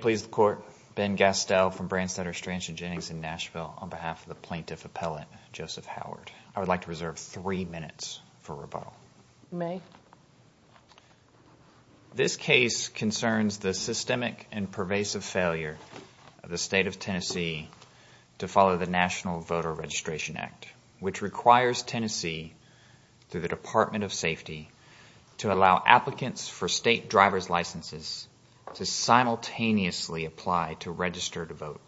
Please the court. Ben Gastel from Brandstetter, Strange and Jennings in Nashville on behalf of the plaintiff appellate, Joseph Howard. I would like to reserve three minutes for rebuttal. You may. This case concerns the systemic and pervasive failure of the State of Tennessee to follow the National Voter Registration Act, which requires Tennessee, through the Department of Safety, to allow applicants for state driver's licenses to simultaneously apply to register to vote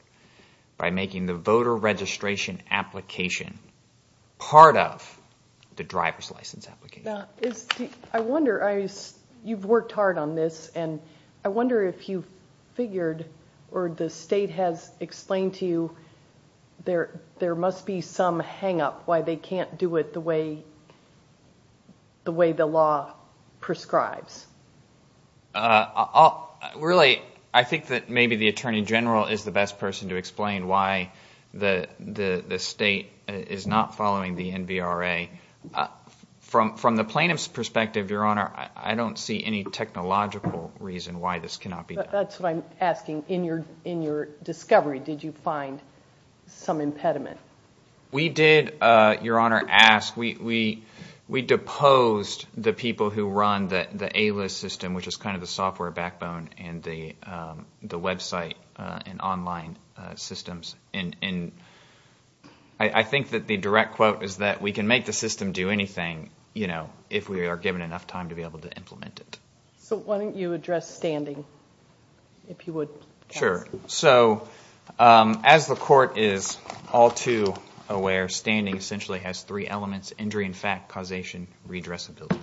by making the voter registration application part of the driver's license application. I wonder, you've worked hard on this, and I wonder if you figured, or the state has explained to you, there must be some hang up why they can't do it the way the law prescribes. Really, I think that maybe the Attorney General is the best person to explain why the state is not following the NVRA. From the plaintiff's perspective, Your Honor, I don't see any technological reason why this cannot be done. That's what I'm asking. In your discovery, did you find some impediment? We did, Your Honor, ask. We deposed the people who run the A-List system, which is kind of the software backbone and the website and online systems. I think that the direct quote is that we can make the system do anything if we are given enough time to be able to implement it. So why don't you address standing, if you would. Sure. So, as the Court is all too aware, standing essentially has three elements, injury in fact, causation, and redressability.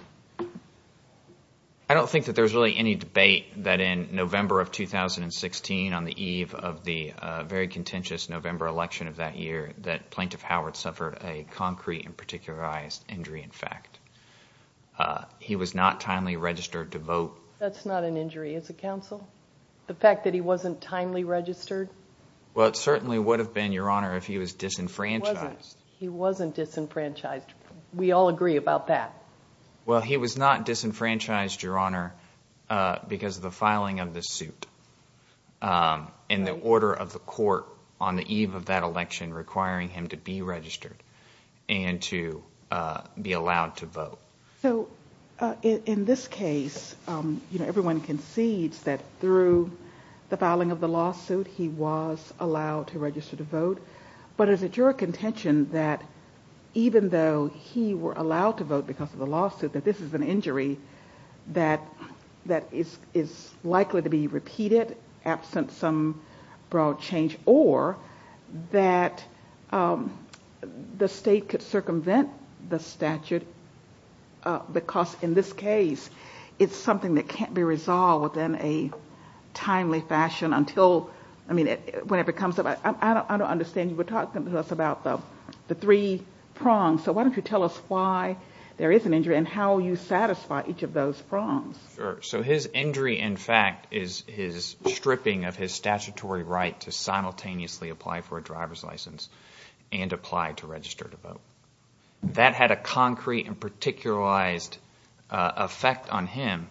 I don't think that there's really any debate that in November of 2016, on the eve of the very contentious November election of that year, that Plaintiff Howard suffered a concrete and particularized injury in fact. He was not timely registered to vote. That's not an injury as a counsel? The fact that he wasn't timely registered? Well, it certainly would have been, Your Honor, if he was disenfranchised. He wasn't disenfranchised. We all agree about that. Well, he was not disenfranchised, Your Honor, because of the filing of the suit and the order of the Court on the eve of that election requiring him to be registered and to be allowed to vote. So, in this case, you know, everyone concedes that through the filing of the lawsuit, he was allowed to register to vote. But is it your contention that even though he were allowed to vote because of the lawsuit, that this is an injury that is likely to be repeated, absent some broad change, or that the State could circumvent the statute because, in this case, it's something that can't be resolved in a timely fashion until, I mean, whenever it comes up? I don't understand. You were talking to us about the three prongs. So why don't you tell us why there is an injury and how you satisfy each of those prongs? Sure. So his injury, in fact, is his stripping of his statutory right to simultaneously apply for a driver's license and apply to register to vote. That had a concrete and particularized effect on him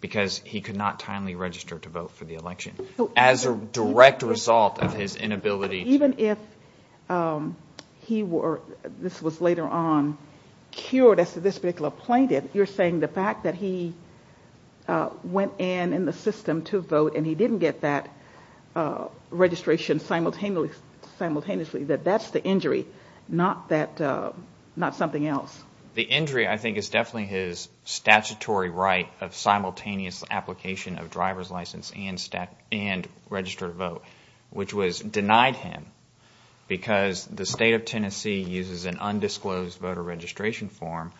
because he could not timely register to vote for the election as a direct result of his inability. Even if he were, this was later on, cured as to this particular plaintiff, you're saying the fact that he went in in the system to vote and he didn't get that registration simultaneously, that that's the injury, not something else? The injury, I think, is definitely his statutory right of simultaneous application of driver's license and register to vote, which was denied him because the State of Tennessee uses an undisclosed voter registration form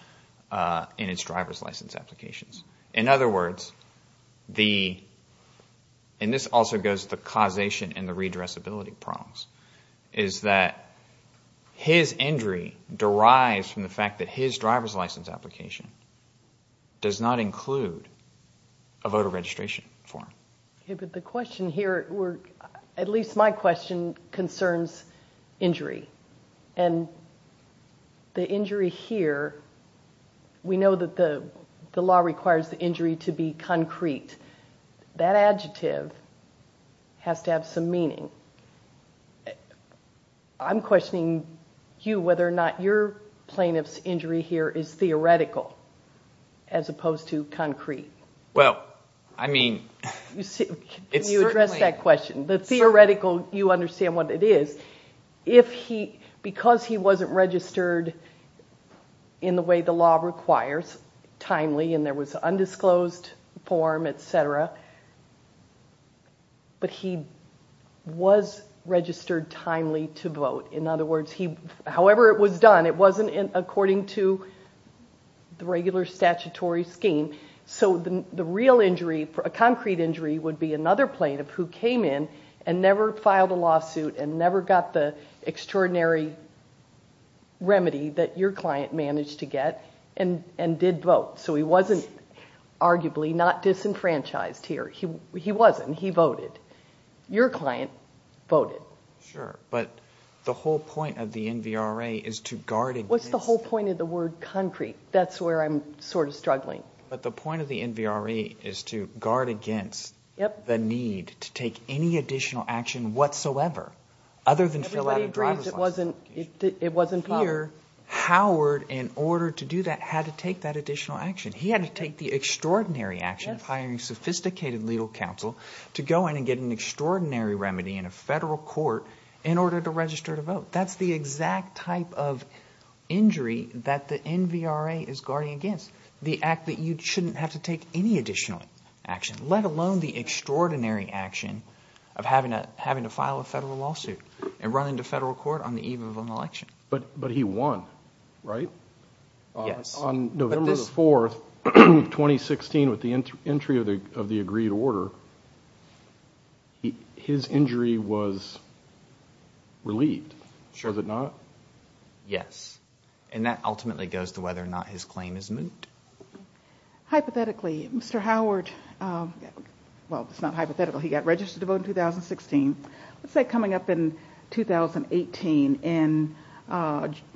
in its driver's license applications. In other words, and this also goes to causation and the redressability prongs, is that his injury derives from the fact that his driver's license application does not include a voter registration form. But the question here, at least my question, concerns injury, and the injury here, we know that the law requires the injury to be concrete. That adjective has to have some meaning. I'm questioning you whether or not your plaintiff's injury here is theoretical as opposed to concrete. Can you address that question? The theoretical, you understand what it is. Because he wasn't registered in the way the law requires, timely, and there was undisclosed form, etc., but he was registered timely to vote. In other words, however it was done, it wasn't according to the regular statutory scheme. So the real injury, a concrete injury, would be another plaintiff who came in and never filed a lawsuit and never got the extraordinary remedy that your client managed to get and did vote. So he wasn't arguably not disenfranchised here. He wasn't. He voted. Your client voted. Sure, but the whole point of the NVRA is to guard against… What's the whole point of the word concrete? That's where I'm sort of struggling. But the point of the NVRA is to guard against the need to take any additional action whatsoever other than fill out a driver's license application. Everybody agrees it wasn't public. Here, Howard, in order to do that, had to take that additional action. He had to take the extraordinary action of hiring sophisticated legal counsel to go in and get an extraordinary remedy in a federal court in order to register to vote. That's the exact type of injury that the NVRA is guarding against, the act that you shouldn't have to take any additional action, let alone the extraordinary action of having to file a federal lawsuit and run into federal court on the eve of an election. But he won, right? Yes. On November 4, 2016, with the entry of the agreed order, his injury was relieved, was it not? Yes. And that ultimately goes to whether or not his claim is moot. Hypothetically, Mr. Howard, well, it's not hypothetical, he got registered to vote in 2016. Let's say coming up in 2018, in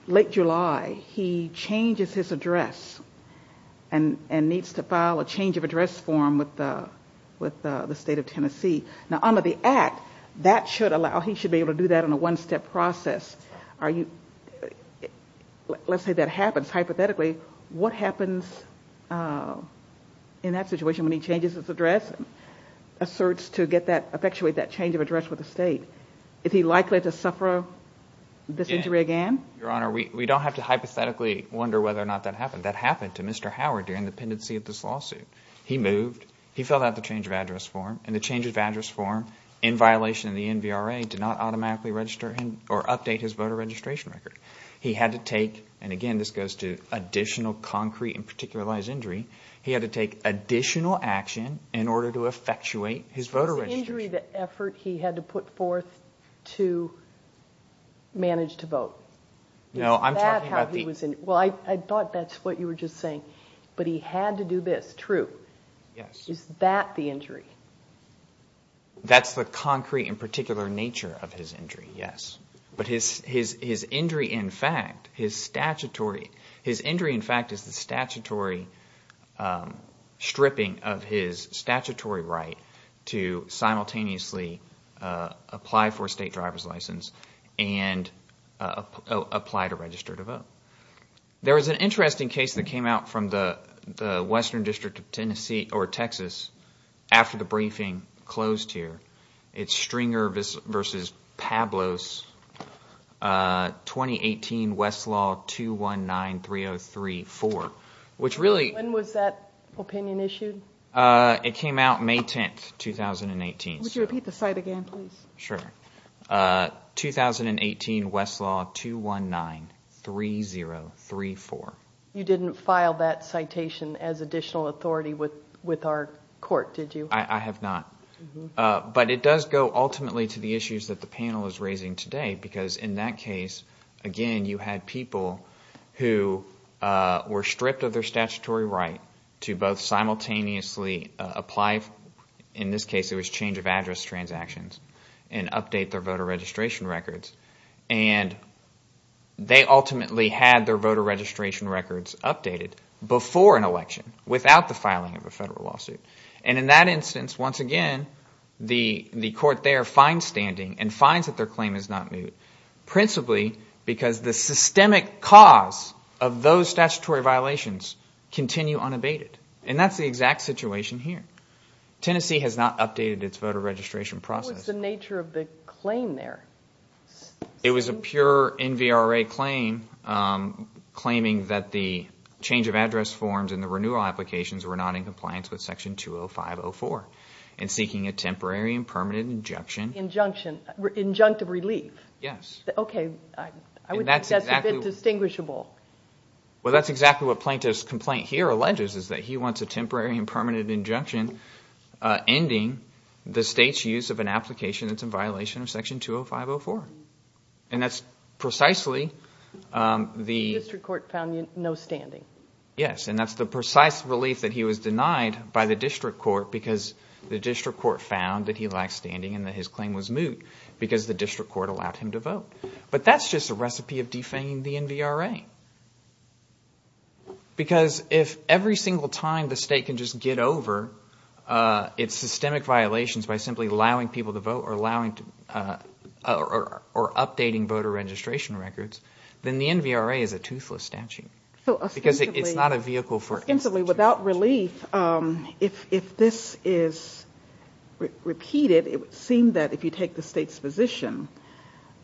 late July, he changes his address and needs to file a change of address form with the state of Tennessee. Now under the act, that should allow, he should be able to do that in a one-step process. Let's say that happens, hypothetically, what happens in that situation when he changes his address? Asserts to get that, effectuate that change of address with the state. Is he likely to suffer this injury again? Your Honor, we don't have to hypothetically wonder whether or not that happened. That happened to Mr. Howard during the pendency of this lawsuit. He moved, he filled out the change of address form, and the change of address form, in violation of the NVRA, did not automatically register him or update his voter registration record. He had to take, and again this goes to additional concrete and particularized injury, he had to take additional action in order to effectuate his voter registration. Was the injury the effort he had to put forth to manage to vote? No, I'm talking about the... Yes. Is that the injury? That's the concrete and particular nature of his injury, yes. But his injury in fact, his statutory, his injury in fact is the statutory stripping of his statutory right to simultaneously apply for a state driver's license and apply to register to vote. There is an interesting case that came out from the Western District of Tennessee, or Texas, after the briefing closed here. It's Stringer v. Pablos, 2018 Westlaw 2193034, which really... When was that opinion issued? It came out May 10th, 2018. Would you repeat the site again please? Sure. 2018 Westlaw 2193034. You didn't file that citation as additional authority with our court, did you? I have not. But it does go ultimately to the issues that the panel is raising today because in that case, again you had people who were stripped of their statutory right to both simultaneously apply for, in this case it was change of address transactions, and update their voter registration records. And they ultimately had their voter registration records updated before an election without the filing of a federal lawsuit. And in that instance, once again, the court there finds standing and finds that their claim is not moot principally because the systemic cause of those statutory violations continue unabated. And that's the exact situation here. Tennessee has not updated its voter registration process. What was the nature of the claim there? It was a pure NVRA claim claiming that the change of address forms and the renewal applications were not in compliance with Section 205.04 and seeking a temporary and permanent injunction. Injunction, injunctive relief. Yes. Okay, I would think that's a bit distinguishable. Well, that's exactly what Plaintiff's complaint here alleges is that he wants a temporary and permanent injunction ending the state's use of an application that's in violation of Section 205.04. And that's precisely the… The district court found no standing. Yes, and that's the precise relief that he was denied by the district court because the district court found that he lacked standing and that his claim was moot because the district court allowed him to vote. But that's just a recipe of defaming the NVRA. Because if every single time the state can just get over its systemic violations by simply allowing people to vote or updating voter registration records, then the NVRA is a toothless statute. Because it's not a vehicle for… Essentially, without relief, if this is repeated, it would seem that if you take the state's position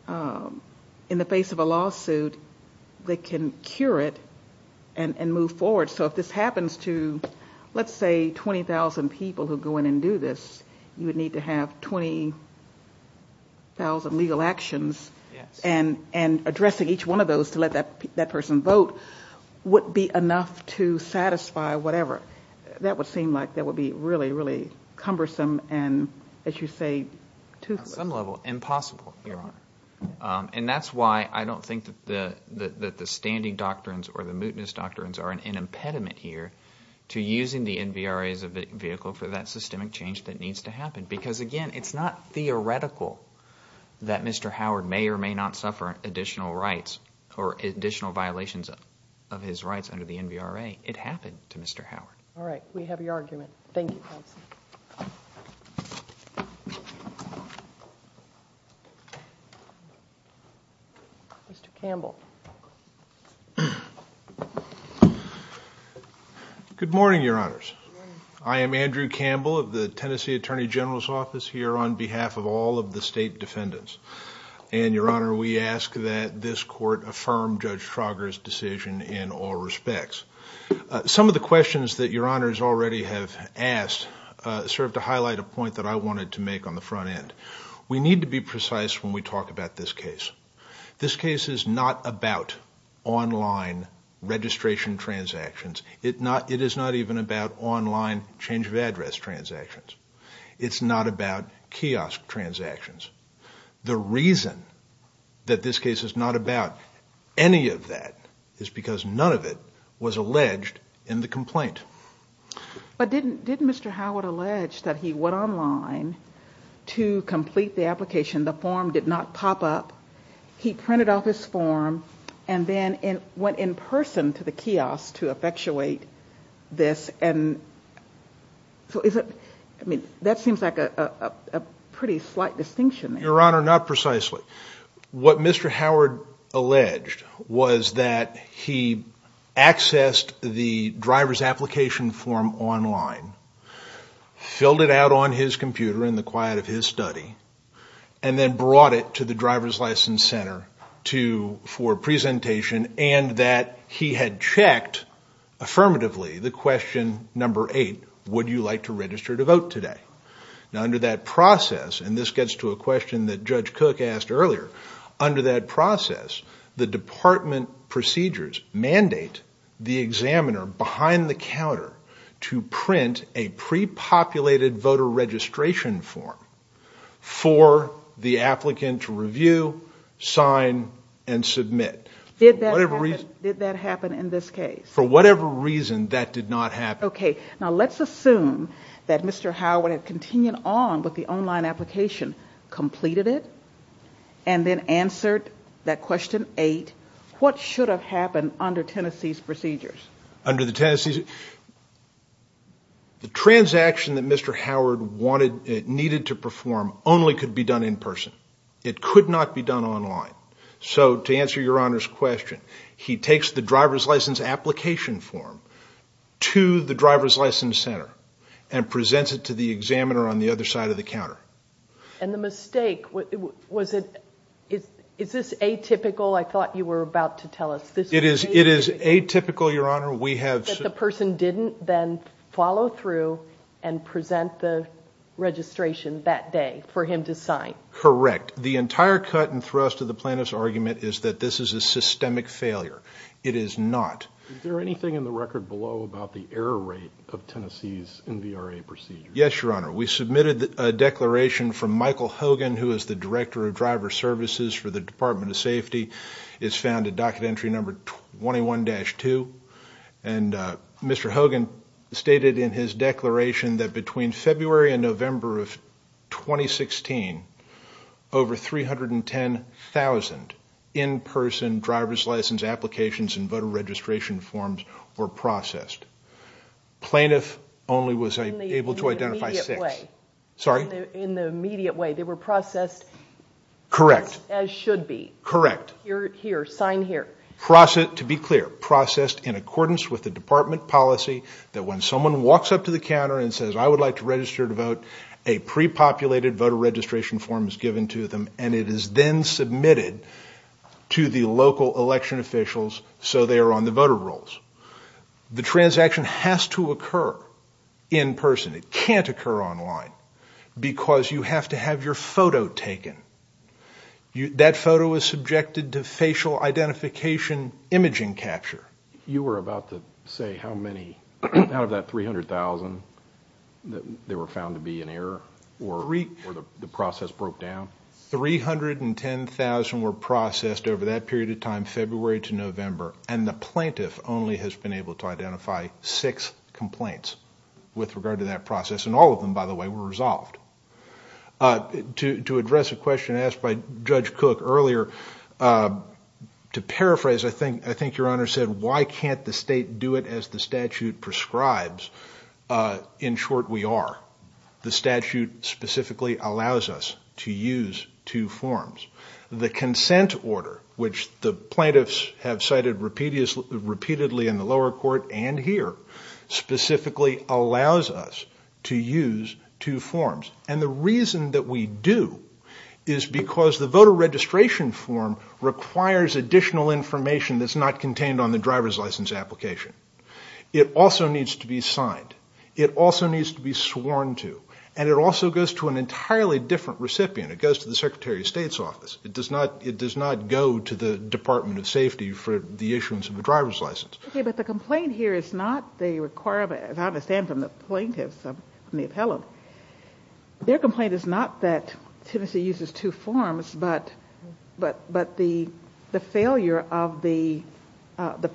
in the face of a lawsuit, they can cure it and move forward. So if this happens to, let's say, 20,000 people who go in and do this, you would need to have 20,000 legal actions. And addressing each one of those to let that person vote would be enough to satisfy whatever. That would seem like that would be really, really cumbersome and, as you say, toothless. On some level, impossible, Your Honor. And that's why I don't think that the standing doctrines or the mootness doctrines are an impediment here to using the NVRA as a vehicle for that systemic change that needs to happen. Because, again, it's not theoretical that Mr. Howard may or may not suffer additional rights or additional violations of his rights under the NVRA. It happened to Mr. Howard. All right. We have your argument. Thank you, counsel. Mr. Campbell. Good morning, Your Honors. Good morning. I am Andrew Campbell of the Tennessee Attorney General's Office here on behalf of all of the state defendants. And, Your Honor, we ask that this court affirm Judge Trauger's decision in all respects. Some of the questions that Your Honors already have asked serve to highlight a point that I wanted to make on the front end. We need to be precise when we talk about this case. This case is not about online registration transactions. It is not even about online change of address transactions. It's not about kiosk transactions. The reason that this case is not about any of that is because none of it was alleged in the complaint. But didn't Mr. Howard allege that he went online to complete the application? The form did not pop up. He printed off his form and then went in person to the kiosk to effectuate this. And so is it – I mean, that seems like a pretty slight distinction there. Your Honor, not precisely. What Mr. Howard alleged was that he accessed the driver's application form online, filled it out on his computer in the quiet of his study, and then brought it to the driver's license center for presentation and that he had checked affirmatively the question number eight, would you like to register to vote today? Now, under that process – and this gets to a question that Judge Cook asked earlier – under that process, the department procedures mandate the examiner behind the counter to print a pre-populated voter registration form for the applicant to review, sign, and submit. Did that happen in this case? For whatever reason, that did not happen. Okay. Now, let's assume that Mr. Howard had continued on with the online application, completed it, and then answered that question eight. What should have happened under Tennessee's procedures? Under the Tennessee's – the transaction that Mr. Howard wanted – needed to perform only could be done in person. It could not be done online. So, to answer Your Honor's question, he takes the driver's license application form to the driver's license center and presents it to the examiner on the other side of the counter. And the mistake – was it – is this atypical? I thought you were about to tell us. It is atypical, Your Honor. We have – That the person didn't then follow through and present the registration that day for him to sign. Correct. The entire cut and thrust of the plaintiff's argument is that this is a systemic failure. It is not. Is there anything in the record below about the error rate of Tennessee's NVRA procedures? Yes, Your Honor. We submitted a declaration from Michael Hogan, who is the Director of Driver Services for the Department of Safety. It's found at docket entry number 21-2. And Mr. Hogan stated in his declaration that between February and November of 2016, over 310,000 in-person driver's license applications and voter registration forms were processed. Plaintiff only was able to identify six. In the immediate way. Sorry? In the immediate way. They were processed – Correct. As should be. Correct. Here, sign here. To be clear, processed in accordance with the department policy that when someone walks up to the counter and says, I would like to register to vote, a pre-populated voter registration form is given to them, and it is then submitted to the local election officials so they are on the voter rolls. The transaction has to occur in person. It can't occur online because you have to have your photo taken. That photo is subjected to facial identification imaging capture. You were about to say how many, out of that 300,000, there were found to be an error or the process broke down? 310,000 were processed over that period of time, February to November, and the plaintiff only has been able to identify six complaints with regard to that process. And all of them, by the way, were resolved. To address a question asked by Judge Cook earlier, to paraphrase, I think your Honor said, why can't the state do it as the statute prescribes? In short, we are. The statute specifically allows us to use two forms. The consent order, which the plaintiffs have cited repeatedly in the lower court and here, specifically allows us to use two forms. And the reason that we do is because the voter registration form requires additional information that's not contained on the driver's license application. It also needs to be signed. It also needs to be sworn to. And it also goes to an entirely different recipient. It goes to the Secretary of State's office. It does not go to the Department of Safety for the issuance of a driver's license. Okay, but the complaint here is not the requirement, as I understand from the plaintiffs, from the appellant, their complaint is not that Tennessee uses two forms, but the failure of the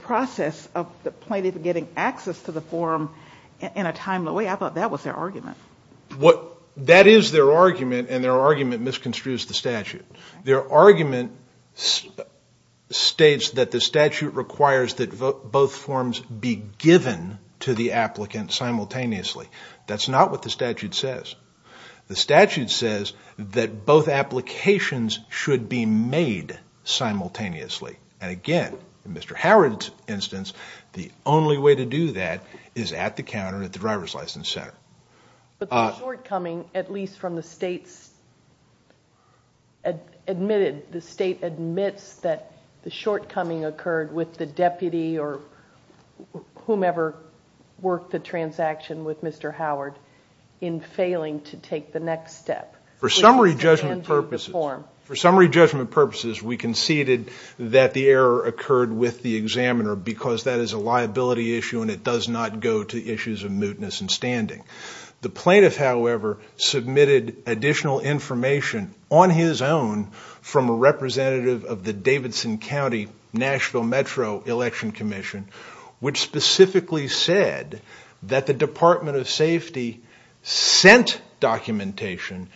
process of the plaintiff getting access to the form in a timely way. I thought that was their argument. That is their argument, and their argument misconstrues the statute. Their argument states that the statute requires that both forms be given to the applicant simultaneously. That's not what the statute says. The statute says that both applications should be made simultaneously. And again, in Mr. Howard's instance, the only way to do that is at the counter at the driver's license center. But the shortcoming, at least from the states admitted, the state admits that the shortcoming occurred with the deputy or whomever worked the transaction with Mr. Howard in failing to take the next step. For summary judgment purposes, we conceded that the error occurred with the examiner because that is a liability issue and it does not go to issues of mootness and standing. The plaintiff, however, submitted additional information on his own from a representative of the Davidson County National Metro Election Commission, which specifically said that the Department of Safety sent documentation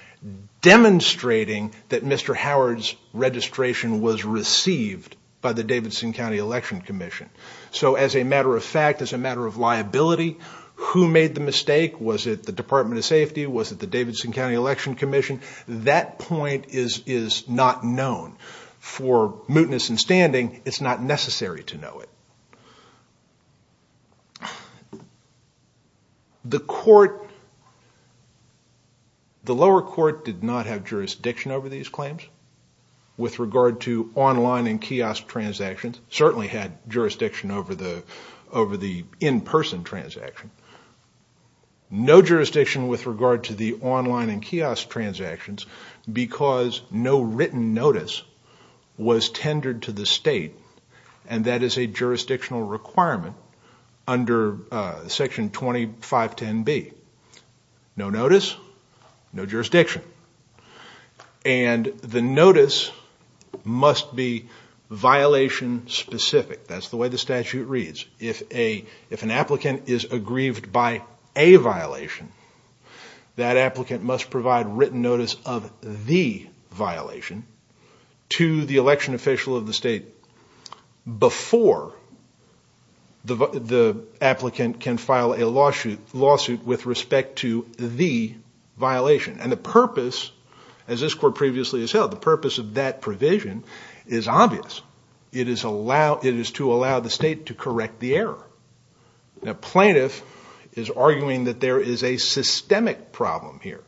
demonstrating that Mr. Howard's registration was received by the Davidson County Election Commission. So as a matter of fact, as a matter of liability, who made the mistake? Was it the Department of Safety? Was it the Davidson County Election Commission? That point is not known. For mootness and standing, it's not necessary to know it. The lower court did not have jurisdiction over these claims with regard to online and kiosk transactions. It certainly had jurisdiction over the in-person transaction. No jurisdiction with regard to the online and kiosk transactions because no written notice was tendered to the state, and that is a jurisdictional requirement under Section 2510B. No notice, no jurisdiction. And the notice must be violation-specific. That's the way the statute reads. If an applicant is aggrieved by a violation, that applicant must provide written notice of the violation to the election official of the state before the applicant can file a lawsuit with respect to the violation. And the purpose, as this court previously has held, the purpose of that provision is obvious. It is to allow the state to correct the error. A plaintiff is arguing that there is a systemic problem here.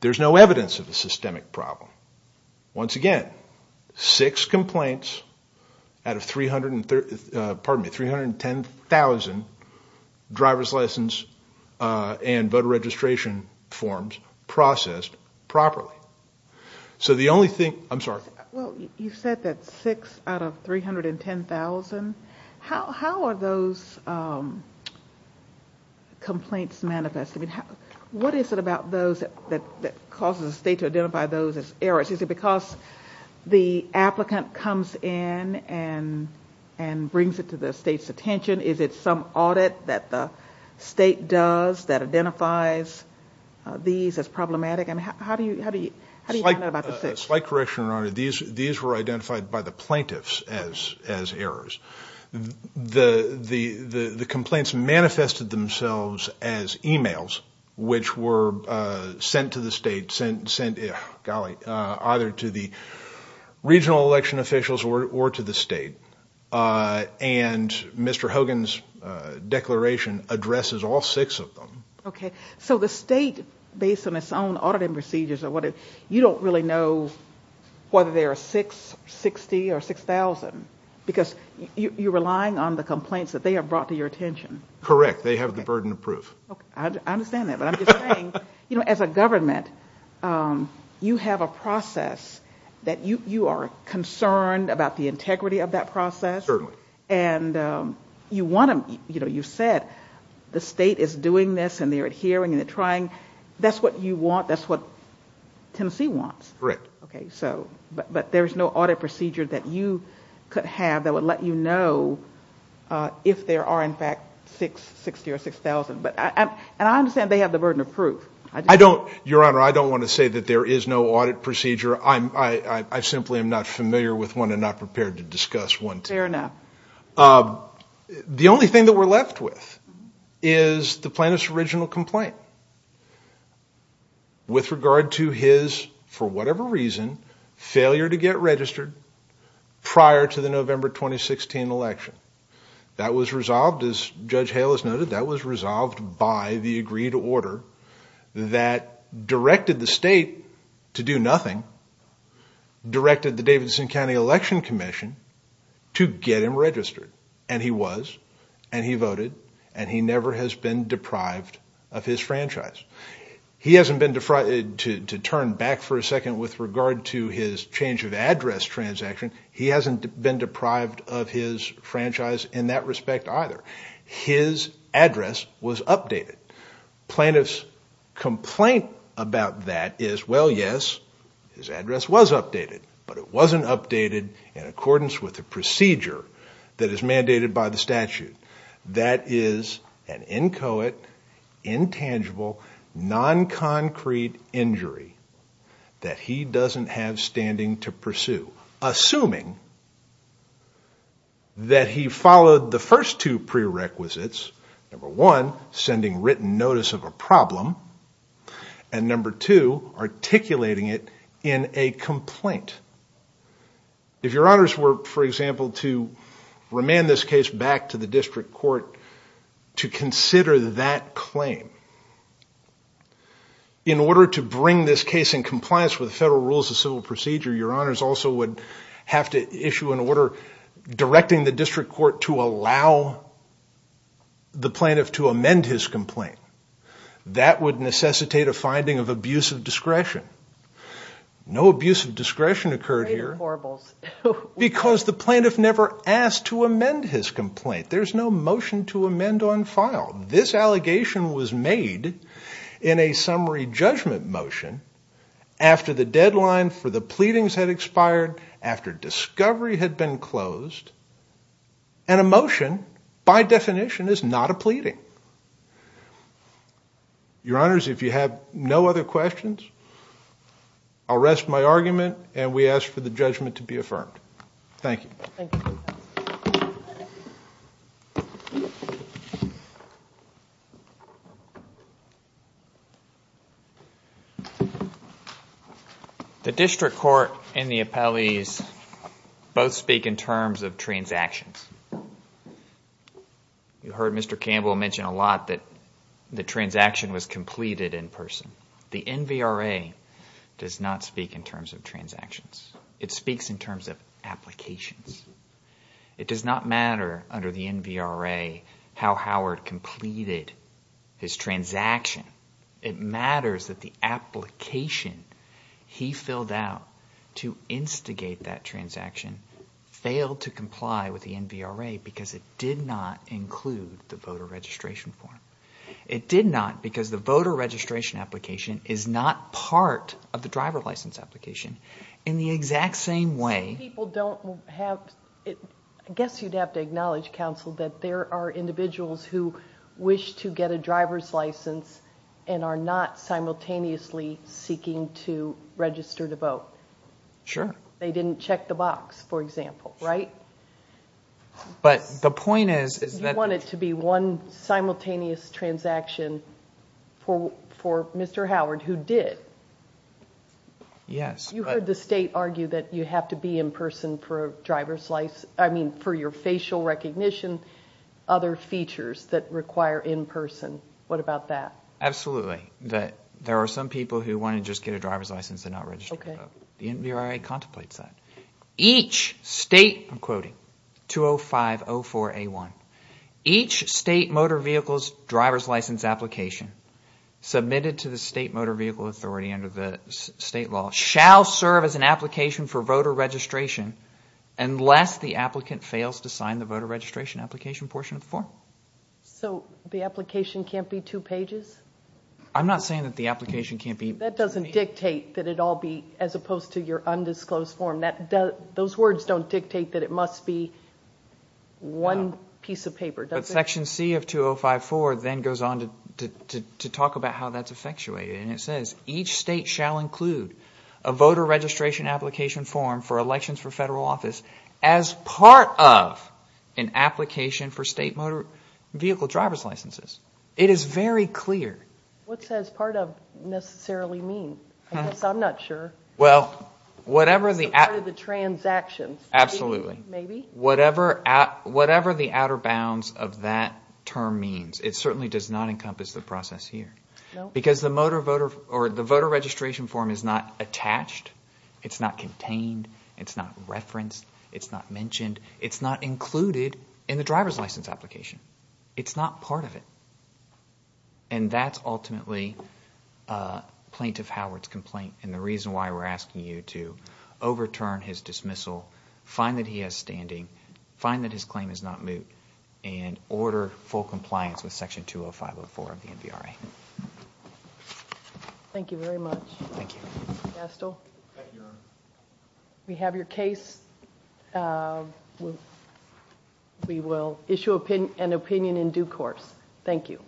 There's no evidence of a systemic problem. Once again, six complaints out of 310,000 driver's license and voter registration forms processed properly. So the only thing, I'm sorry. Well, you said that six out of 310,000. How are those complaints manifested? What is it about those that causes the state to identify those as errors? Is it because the applicant comes in and brings it to the state's attention? Is it some audit that the state does that identifies these as problematic? How do you find out about the six? Slight correction, Your Honor. These were identified by the plaintiffs as errors. The complaints manifested themselves as emails which were sent to the state, sent, golly, either to the regional election officials or to the state. And Mr. Hogan's declaration addresses all six of them. Okay. So the state, based on its own auditing procedures, you don't really know whether there are six, 60, or 6,000 because you're relying on the complaints that they have brought to your attention. Correct. They have the burden of proof. Okay. I understand that. But I'm just saying, you know, as a government, you have a process that you are concerned about the integrity of that process. Certainly. And you want to, you know, you said the state is doing this and they're adhering and they're trying. That's what you want. That's what Tennessee wants. Correct. Okay. But there is no audit procedure that you could have that would let you know if there are, in fact, six, 60, or 6,000. And I understand they have the burden of proof. Your Honor, I don't want to say that there is no audit procedure. I simply am not familiar with one and not prepared to discuss one. Fair enough. The only thing that we're left with is the plaintiff's original complaint. With regard to his, for whatever reason, failure to get registered prior to the November 2016 election. That was resolved, as Judge Hale has noted, that was resolved by the agreed order that directed the state to do nothing, directed the Davidson County Election Commission to get him registered. And he was. And he voted. And he never has been deprived of his franchise. He hasn't been, to turn back for a second with regard to his change of address transaction, he hasn't been deprived of his franchise in that respect either. His address was updated. Plaintiff's complaint about that is, well, yes, his address was updated. But it wasn't updated in accordance with the procedure that is mandated by the statute. That is an inchoate, intangible, non-concrete injury that he doesn't have standing to pursue. Assuming that he followed the first two prerequisites. Number one, sending written notice of a problem. And number two, articulating it in a complaint. If your honors were, for example, to remand this case back to the district court to consider that claim, in order to bring this case in compliance with federal rules of civil procedure, your honors also would have to issue an order directing the district court to allow the plaintiff to amend his complaint. That would necessitate a finding of abuse of discretion. No abuse of discretion occurred here because the plaintiff never asked to amend his complaint. There's no motion to amend on file. This allegation was made in a summary judgment motion after the deadline for the pleadings had expired, after discovery had been closed, and a motion, by definition, is not a pleading. Your honors, if you have no other questions, I'll rest my argument, and we ask for the judgment to be affirmed. Thank you. Thank you. The district court and the appellees both speak in terms of transactions. You heard Mr. Campbell mention a lot that the transaction was completed in person. The NVRA does not speak in terms of transactions. It speaks in terms of applications. It does not matter under the NVRA how Howard completed his transaction. It matters that the application he filled out to instigate that transaction failed to comply with the NVRA because it did not include the voter registration form. It did not because the voter registration application is not part of the driver license application. In the exact same way- People don't have- I guess you'd have to acknowledge, counsel, that there are individuals who wish to get a driver's license and are not simultaneously seeking to register to vote. Sure. They didn't check the box, for example, right? But the point is- You want it to be one simultaneous transaction for Mr. Howard who did. Yes. You heard the state argue that you have to be in person for your facial recognition, other features that require in person. What about that? Absolutely. There are some people who want to just get a driver's license and not register to vote. The NVRA contemplates that. Each state- I'm quoting- 205.04.A1. Each state motor vehicle's driver's license application submitted to the state motor vehicle authority under the state law shall serve as an application for voter registration unless the applicant fails to sign the voter registration application portion of the form. So the application can't be two pages? I'm not saying that the application can't be- That doesn't dictate that it all be- as opposed to your undisclosed form. Those words don't dictate that it must be one piece of paper, does it? But section C of 205.04 then goes on to talk about how that's effectuated. It says each state shall include a voter registration application form for elections for federal office as part of an application for state motor vehicle driver's licenses. It is very clear. What does part of necessarily mean? I guess I'm not sure. Well, whatever the- Part of the transactions. Absolutely. Maybe. Whatever the outer bounds of that term means, it certainly does not encompass the process here. No. Because the voter registration form is not attached. It's not contained. It's not referenced. It's not mentioned. It's not included in the driver's license application. It's not part of it. And that's ultimately Plaintiff Howard's complaint, and the reason why we're asking you to overturn his dismissal, find that he has standing, find that his claim is not moot, and order full compliance with section 205.04 of the NVRA. Thank you very much. Thank you. Gastel. Thank you, Your Honor. We have your case. We will issue an opinion in due course. Thank you.